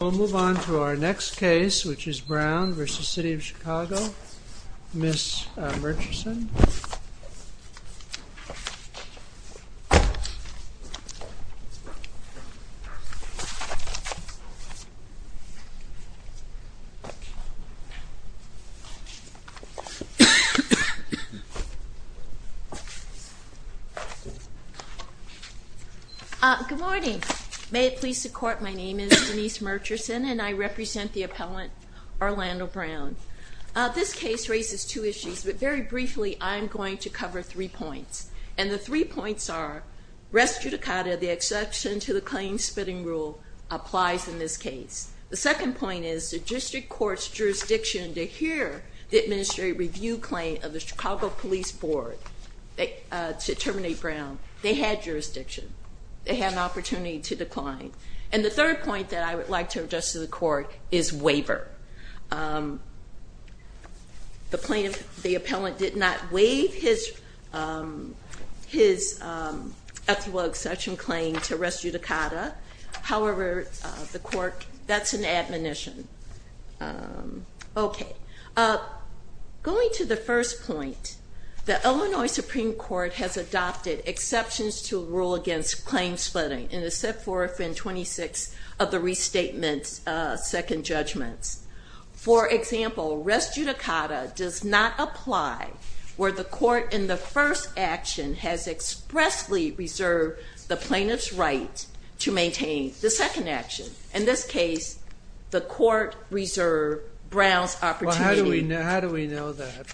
We'll move on to our next case, which is Brown v. City of Chicago. Ms. Murchison. Good morning. May it please the court, my name is Denise Murchison and I represent the appellant Orlando Brown. This case raises two issues, but very briefly I'm going to cover three points. And the three points are res judicata, the exception to the claims spitting rule applies in this case. The second point is the district court's jurisdiction to hear the administrative review claim of the Chicago Police Board to terminate Brown. They had jurisdiction. They had an opportunity to decline. And the third point that I would like to address to the court is waiver. The plaintiff, the appellant did not waive his, his ethical exception claim to res judicata. However, the court, that's an admonition. Okay. Going to the first point, the Illinois Supreme Court has adopted exceptions to rule against claims spitting and has set forth in 26 of the restatements second judgments. For example, res judicata does not apply where the court in the first action has expressly reserved the plaintiff's right to maintain the second action. In this case, the court reserved Brown's opportunity. How do we know that?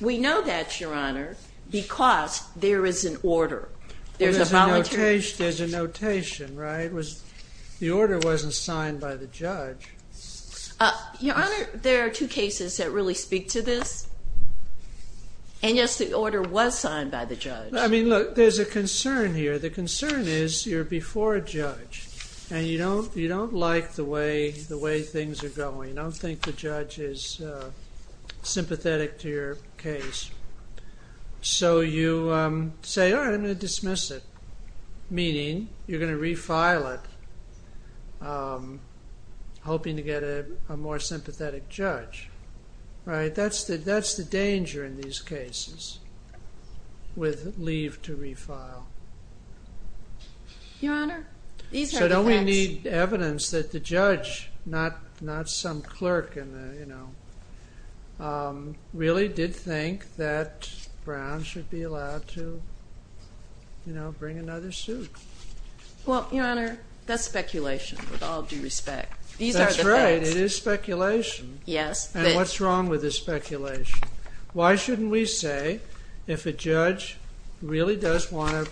We know that, Your Honor, because there is an order. There's a notation, right? The order wasn't signed by the judge. Your Honor, there are two cases that really speak to this. And yes, the order was signed by the judge. I mean, look, there's a concern here. The concern is you're before a judge and you don't, you don't like the way, the way things are going. I don't think the judge is sympathetic to your case. So you say, all right, I'm going to dismiss it. Meaning you're going to refile it, hoping to get a more sympathetic judge. Right? That's the danger in these cases with leave to refile. Your Honor, these are the facts. So don't we need evidence that the judge, not some clerk in the, you know, really did think that Brown should be allowed to, you know, bring another suit? Well, Your Honor, that's speculation with all due respect. These are the facts. That's right. It is speculation. Yes. And what's wrong with the speculation? Why shouldn't we say if a judge really does want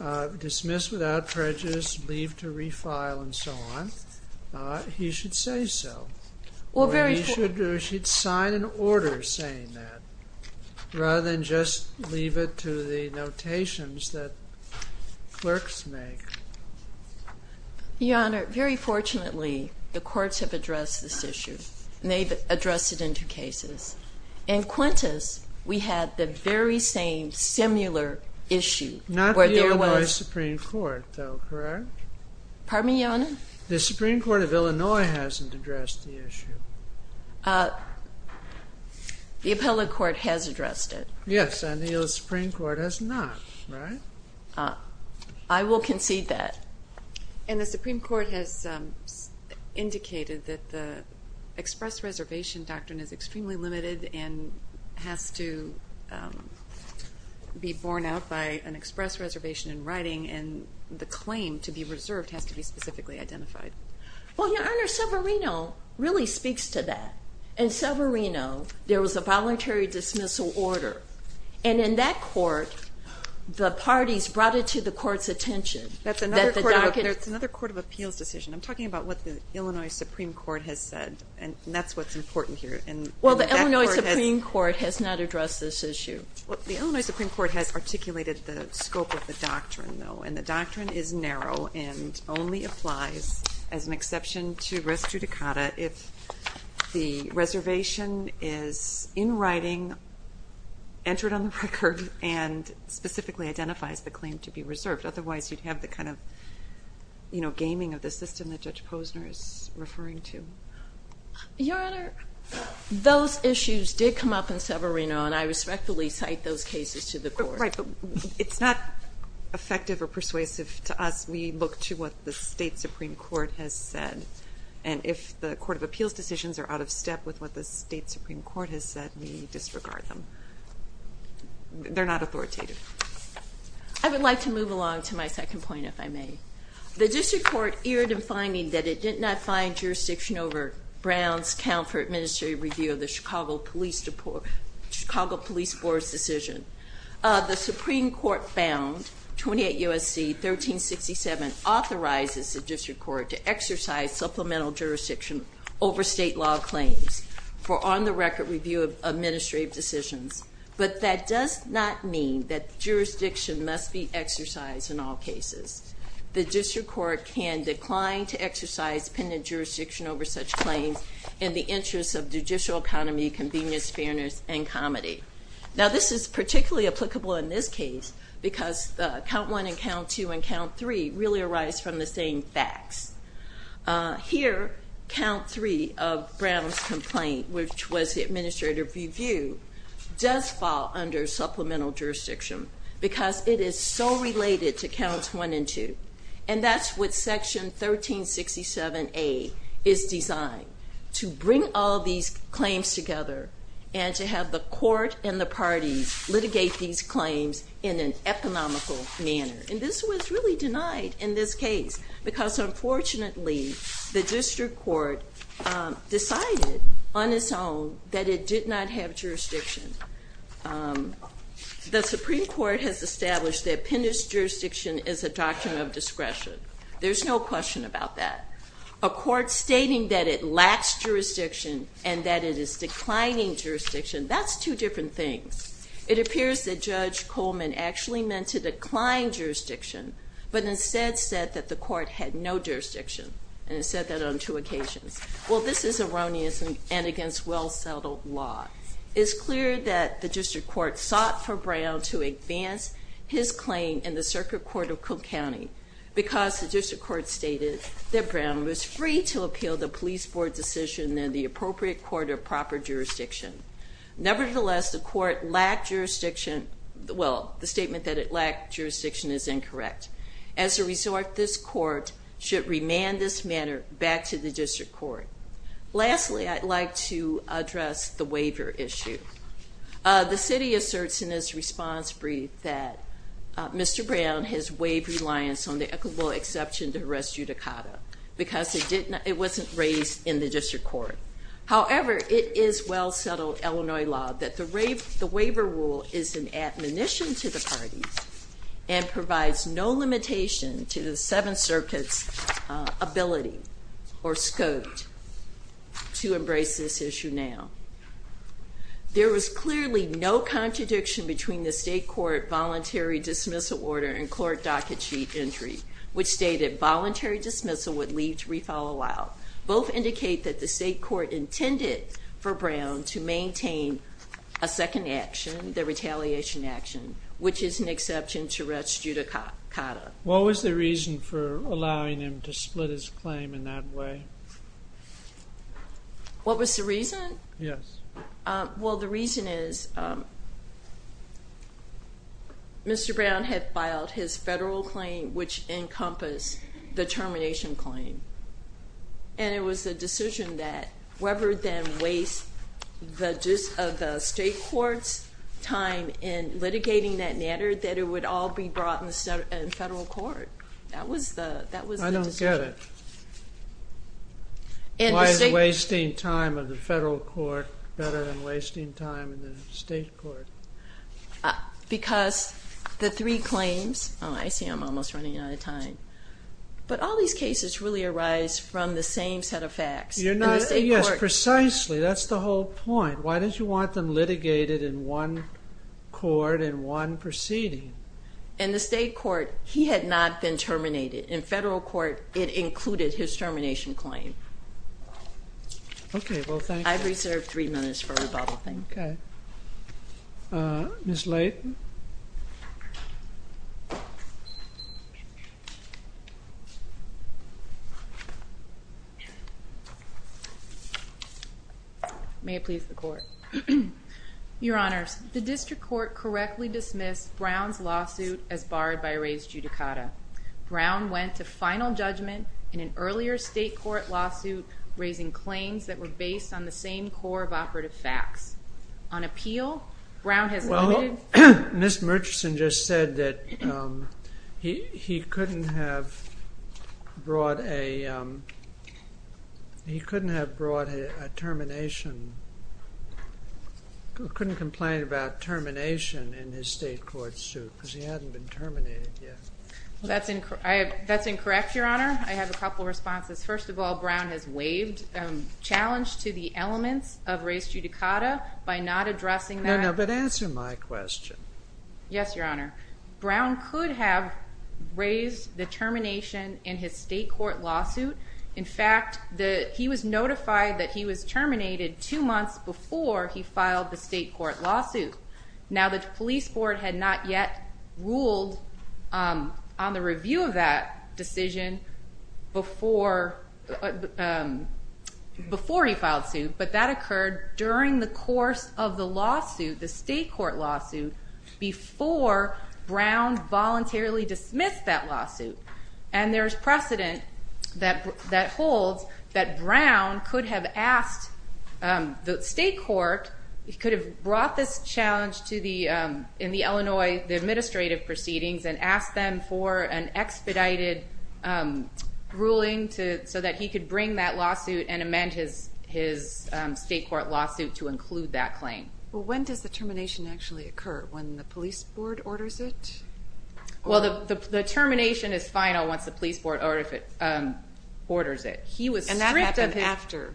to dismiss without prejudice, leave to refile and so on, he should say so? Or he should sign an order saying that rather than just leave it to the notations that clerks make. Your Honor, very fortunately, the courts have addressed this issue. And they've addressed it in two cases. In Quintus, we had the very same, similar issue. Not the Illinois Supreme Court, though, correct? Pardon me, Your Honor? The Supreme Court of Illinois hasn't addressed the issue. The appellate court has addressed it. Yes, and the Supreme Court has not, right? I will concede that. And the Supreme Court has indicated that the express reservation doctrine is extremely limited and has to be borne out by an express reservation in writing, and the claim to be reserved has to be specifically identified. Well, Your Honor, Severino really speaks to that. In Severino, there was a voluntary dismissal order. And in that court, the parties brought it to the court's attention. That's another court of appeals decision. I'm talking about what the Illinois Supreme Court has said, and that's what's important here. Well, the Illinois Supreme Court has not addressed this issue. The Illinois Supreme Court has articulated the scope of the doctrine, though, and the doctrine is narrow and only applies, as an exception to res judicata, if the reservation is in writing, entered on the record, and specifically identifies the claim to be reserved. Otherwise, you'd have the kind of gaming of the system that Judge Posner is referring to. Your Honor, those issues did come up in Severino, and I respectfully cite those cases to the court. Right, but it's not effective or persuasive to us. We look to what the state Supreme Court has said. And if the court of appeals decisions are out of step with what the state Supreme Court has said, we disregard them. They're not authoritative. I would like to move along to my second point, if I may. The district court erred in finding that it did not find jurisdiction over Brown's account for administrative review of the Chicago Police Board's decision. The Supreme Court found, 28 U.S.C. 1367, authorizes the district court to exercise supplemental jurisdiction over state law claims for on-the-record review of administrative decisions. But that does not mean that jurisdiction must be exercised in all cases. The district court can decline to exercise pendent jurisdiction over such claims in the interest of judicial economy, convenience, fairness, and comedy. Now, this is particularly applicable in this case, because count one and count two and count three really arise from the same facts. Here, count three of Brown's complaint, which was the administrative review, does fall under supplemental jurisdiction because it is so related to counts one and two. And that's what section 1367A is designed, to bring all these claims together and to have the court and the parties litigate these claims in an economical manner. And this was really denied in this case because, unfortunately, the district court decided on its own that it did not have jurisdiction. The Supreme Court has established that pendent jurisdiction is a doctrine of discretion. There's no question about that. A court stating that it lacks jurisdiction and that it is declining jurisdiction, that's two different things. It appears that Judge Coleman actually meant to decline jurisdiction, but instead said that the court had no jurisdiction and said that on two occasions. Well, this is erroneous and against well-settled law. It's clear that the district court sought for Brown to advance his claim in the circuit court of Cook County because the district court stated that Brown was free to appeal the police board decision in the appropriate court or proper jurisdiction. Nevertheless, the court lacked jurisdiction. Well, the statement that it lacked jurisdiction is incorrect. As a result, this court should remand this matter back to the district court. Lastly, I'd like to address the waiver issue. The city asserts in its response brief that Mr. Brown has waived reliance on the applicable exception to res judicata because it wasn't raised in the district court. However, it is well-settled Illinois law that the waiver rule is an admonition to the parties and provides no limitation to the Seventh Circuit's ability or scope to embrace this issue now. There was clearly no contradiction between the state court voluntary dismissal order and court docket sheet entry, which stated voluntary dismissal would lead to refollow-out. Both indicate that the state court intended for Brown to maintain a second action, the retaliation action, which is an exception to res judicata. What was the reason for allowing him to split his claim in that way? What was the reason? Yes. Well, the reason is Mr. Brown had filed his federal claim, which encompassed the termination claim, and it was a decision that rather than waste the state court's time in litigating that matter, that it would all be brought in federal court. That was the decision. I get it. Why is wasting time of the federal court better than wasting time in the state court? Because the three claims – oh, I see I'm almost running out of time. But all these cases really arise from the same set of facts. Yes, precisely. That's the whole point. Why did you want them litigated in one court in one proceeding? In the state court, he had not been terminated. In federal court, it included his termination claim. Okay, well, thank you. I've reserved three minutes for rebuttal. Okay. Ms. Layton. May it please the Court. Your Honors, the district court correctly dismissed Brown's lawsuit as barred by res judicata. Brown went to final judgment in an earlier state court lawsuit raising claims that were based on the same core of operative facts. On appeal, Brown has – Well, Ms. Murchison just said that he couldn't have brought a termination – couldn't complain about termination in his state court suit because he hadn't been terminated yet. That's incorrect, Your Honor. I have a couple of responses. First of all, Brown has waived challenge to the elements of res judicata by not addressing that. No, no, but answer my question. Yes, Your Honor. Brown could have raised the termination in his state court lawsuit. In fact, he was notified that he was terminated two months before he filed the state court lawsuit. Now, the police board had not yet ruled on the review of that decision before he filed suit, but that occurred during the course of the lawsuit, the state court lawsuit, before Brown voluntarily dismissed that lawsuit. And there's precedent that holds that Brown could have asked the state court – in the Illinois administrative proceedings and asked them for an expedited ruling so that he could bring that lawsuit and amend his state court lawsuit to include that claim. Well, when does the termination actually occur? When the police board orders it? Well, the termination is final once the police board orders it. And that happened after?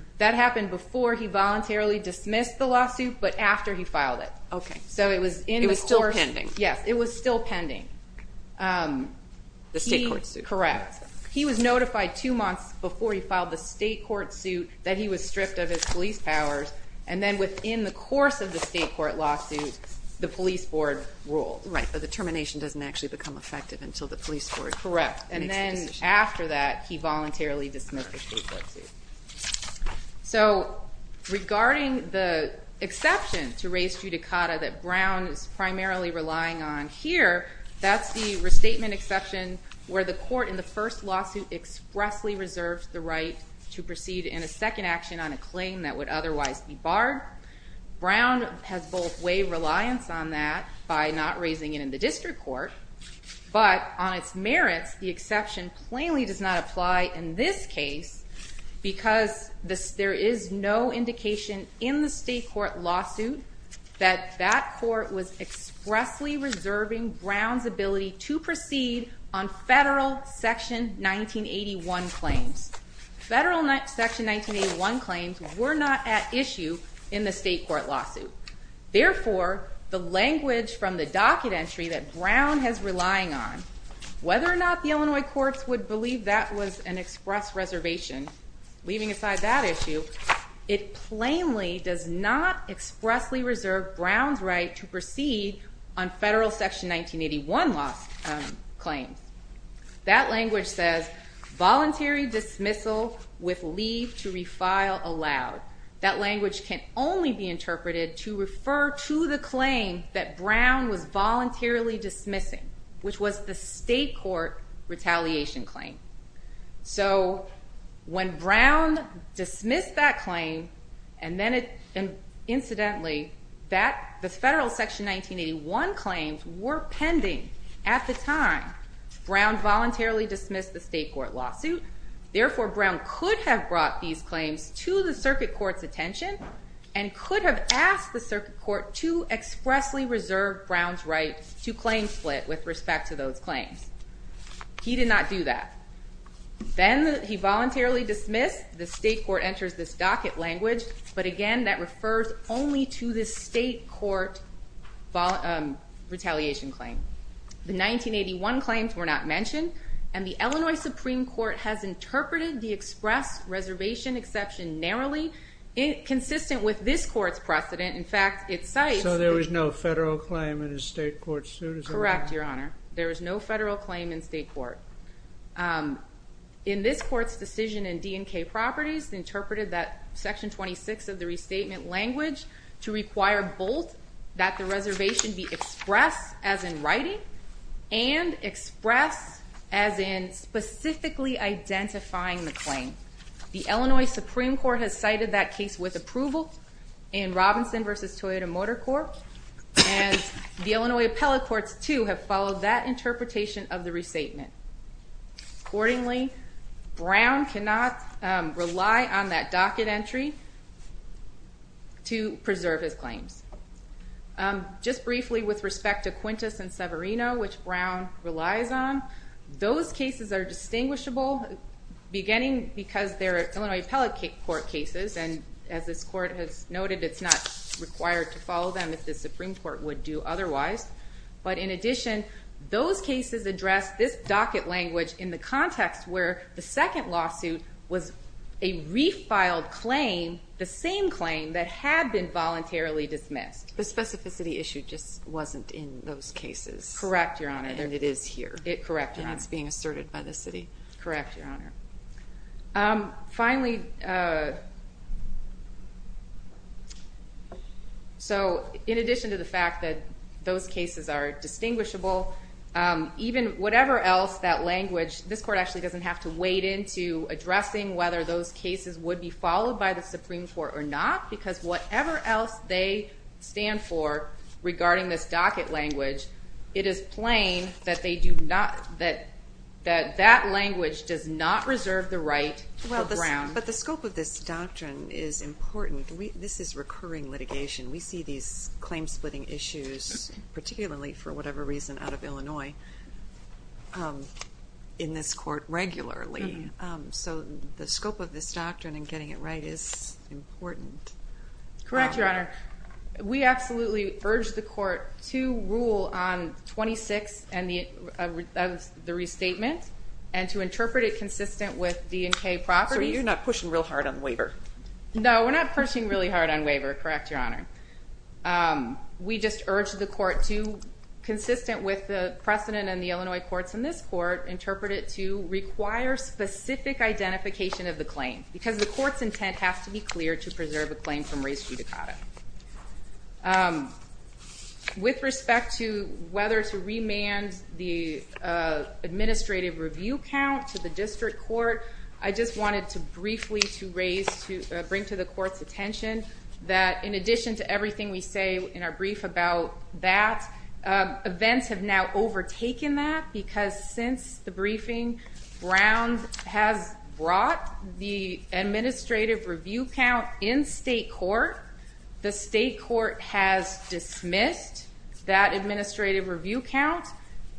Before he voluntarily dismissed the lawsuit, but after he filed it. Okay. So it was in the course – It was still pending. Yes, it was still pending. The state court suit. Correct. He was notified two months before he filed the state court suit that he was stripped of his police powers, and then within the course of the state court lawsuit, the police board ruled. Right, but the termination doesn't actually become effective until the police board makes the decision. Correct, and then after that, he voluntarily dismissed the state court suit. So regarding the exception to res judicata that Brown is primarily relying on here, that's the restatement exception where the court in the first lawsuit expressly reserves the right to proceed in a second action on a claim that would otherwise be barred. Brown has both waived reliance on that by not raising it in the district court, but on its merits, the exception plainly does not apply in this case because there is no indication in the state court lawsuit that that court was expressly reserving Brown's ability to proceed on federal Section 1981 claims. Federal Section 1981 claims were not at issue in the state court lawsuit. Therefore, the language from the docket entry that Brown has relying on, whether or not the Illinois courts would believe that was an express reservation, leaving aside that issue, it plainly does not expressly reserve Brown's right to proceed on federal Section 1981 claims. That language says, voluntary dismissal with leave to refile allowed. That language can only be interpreted to refer to the claim that Brown was voluntarily dismissing, which was the state court retaliation claim. So when Brown dismissed that claim, and incidentally, the federal Section 1981 claims were pending at the time Brown voluntarily dismissed the state court lawsuit. Therefore, Brown could have brought these claims to the circuit court's attention and could have asked the circuit court to expressly reserve Brown's right to claim split with respect to those claims. He did not do that. Then he voluntarily dismissed, the state court enters this docket language, but again, that refers only to the state court retaliation claim. The 1981 claims were not mentioned, and the Illinois Supreme Court has interpreted the express reservation exception narrowly, consistent with this court's precedent. In fact, it cites... So there was no federal claim in the state court suit? Correct, Your Honor. There was no federal claim in state court. In this court's decision in D&K Properties, interpreted that Section 26 of the restatement language to require both that the reservation be expressed as in writing, and expressed as in specifically identifying the claim. The Illinois Supreme Court has cited that case with approval in Robinson v. Toyota Motor Corp., and the Illinois Appellate Courts, too, have followed that interpretation of the restatement. Accordingly, Brown cannot rely on that docket entry to preserve his claims. Just briefly, with respect to Quintus and Severino, which Brown relies on, those cases are distinguishable, beginning because they're Illinois Appellate Court cases, and as this court has noted, it's not required to follow them if the Supreme Court would do otherwise. But in addition, those cases address this docket language in the context where the second lawsuit was a refiled claim, the same claim that had been voluntarily dismissed. The specificity issue just wasn't in those cases. Correct, Your Honor. And it is here. Correct, Your Honor. And it's being asserted by the city. Correct, Your Honor. Finally, so in addition to the fact that those cases are distinguishable, even whatever else that language, this court actually doesn't have to wade into addressing whether those cases would be followed by the Supreme Court or not, because whatever else they stand for regarding this docket language, it is plain that that language does not reserve the right for Brown. But the scope of this doctrine is important. This is recurring litigation. We see these claim-splitting issues, particularly for whatever reason out of Illinois, in this court regularly. So the scope of this doctrine and getting it right is important. Correct, Your Honor. We absolutely urge the court to rule on 26 of the restatement and to interpret it consistent with D&K properties. So you're not pushing real hard on waiver? No, we're not pushing really hard on waiver. Correct, Your Honor. We just urge the court to, consistent with the precedent in the Illinois courts and this court, interpret it to require specific identification of the claim, because the court's intent has to be clear to preserve a claim from race judicata. With respect to whether to remand the administrative review count to the district court, I just wanted to briefly bring to the court's attention that, in addition to everything we say in our brief about that, events have now overtaken that, because since the briefing, Brown has brought the administrative review count in state court. The state court has dismissed that administrative review count.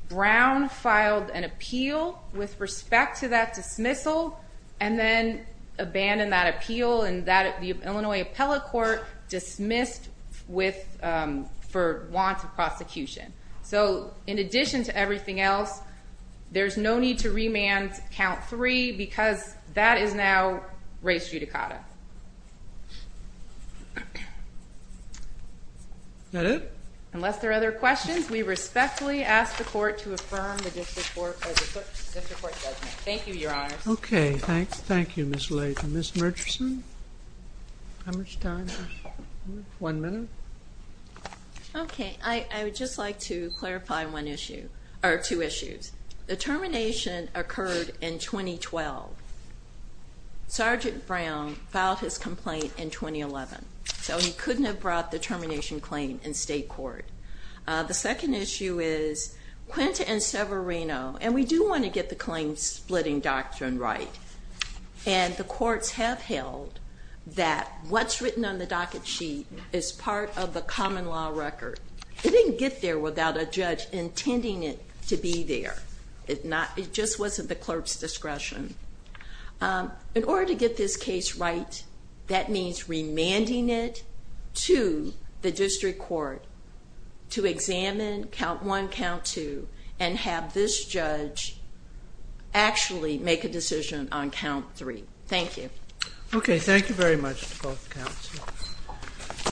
Brown filed an appeal with respect to that dismissal and then abandoned that appeal, and the Illinois appellate court dismissed for want of prosecution. So in addition to everything else, there's no need to remand count 3, because that is now race judicata. Is that it? Unless there are other questions, we respectfully ask the court to affirm the district court judgment. Thank you, Your Honor. Okay, thank you, Ms. Layton. Ms. Murchison, how much time do we have? One minute. Okay, I would just like to clarify two issues. The termination occurred in 2012. Sergeant Brown filed his complaint in 2011, so he couldn't have brought the termination claim in state court. The second issue is Quinta and Severino, and we do want to get the claim splitting doctrine right, and the courts have held that what's written on the docket sheet is part of the common law record. It didn't get there without a judge intending it to be there. It just wasn't the clerk's discretion. In order to get this case right, that means remanding it to the district court to examine count 1, count 2, and have this judge actually make a decision on count 3. Thank you. Okay, thank you very much to both counsels.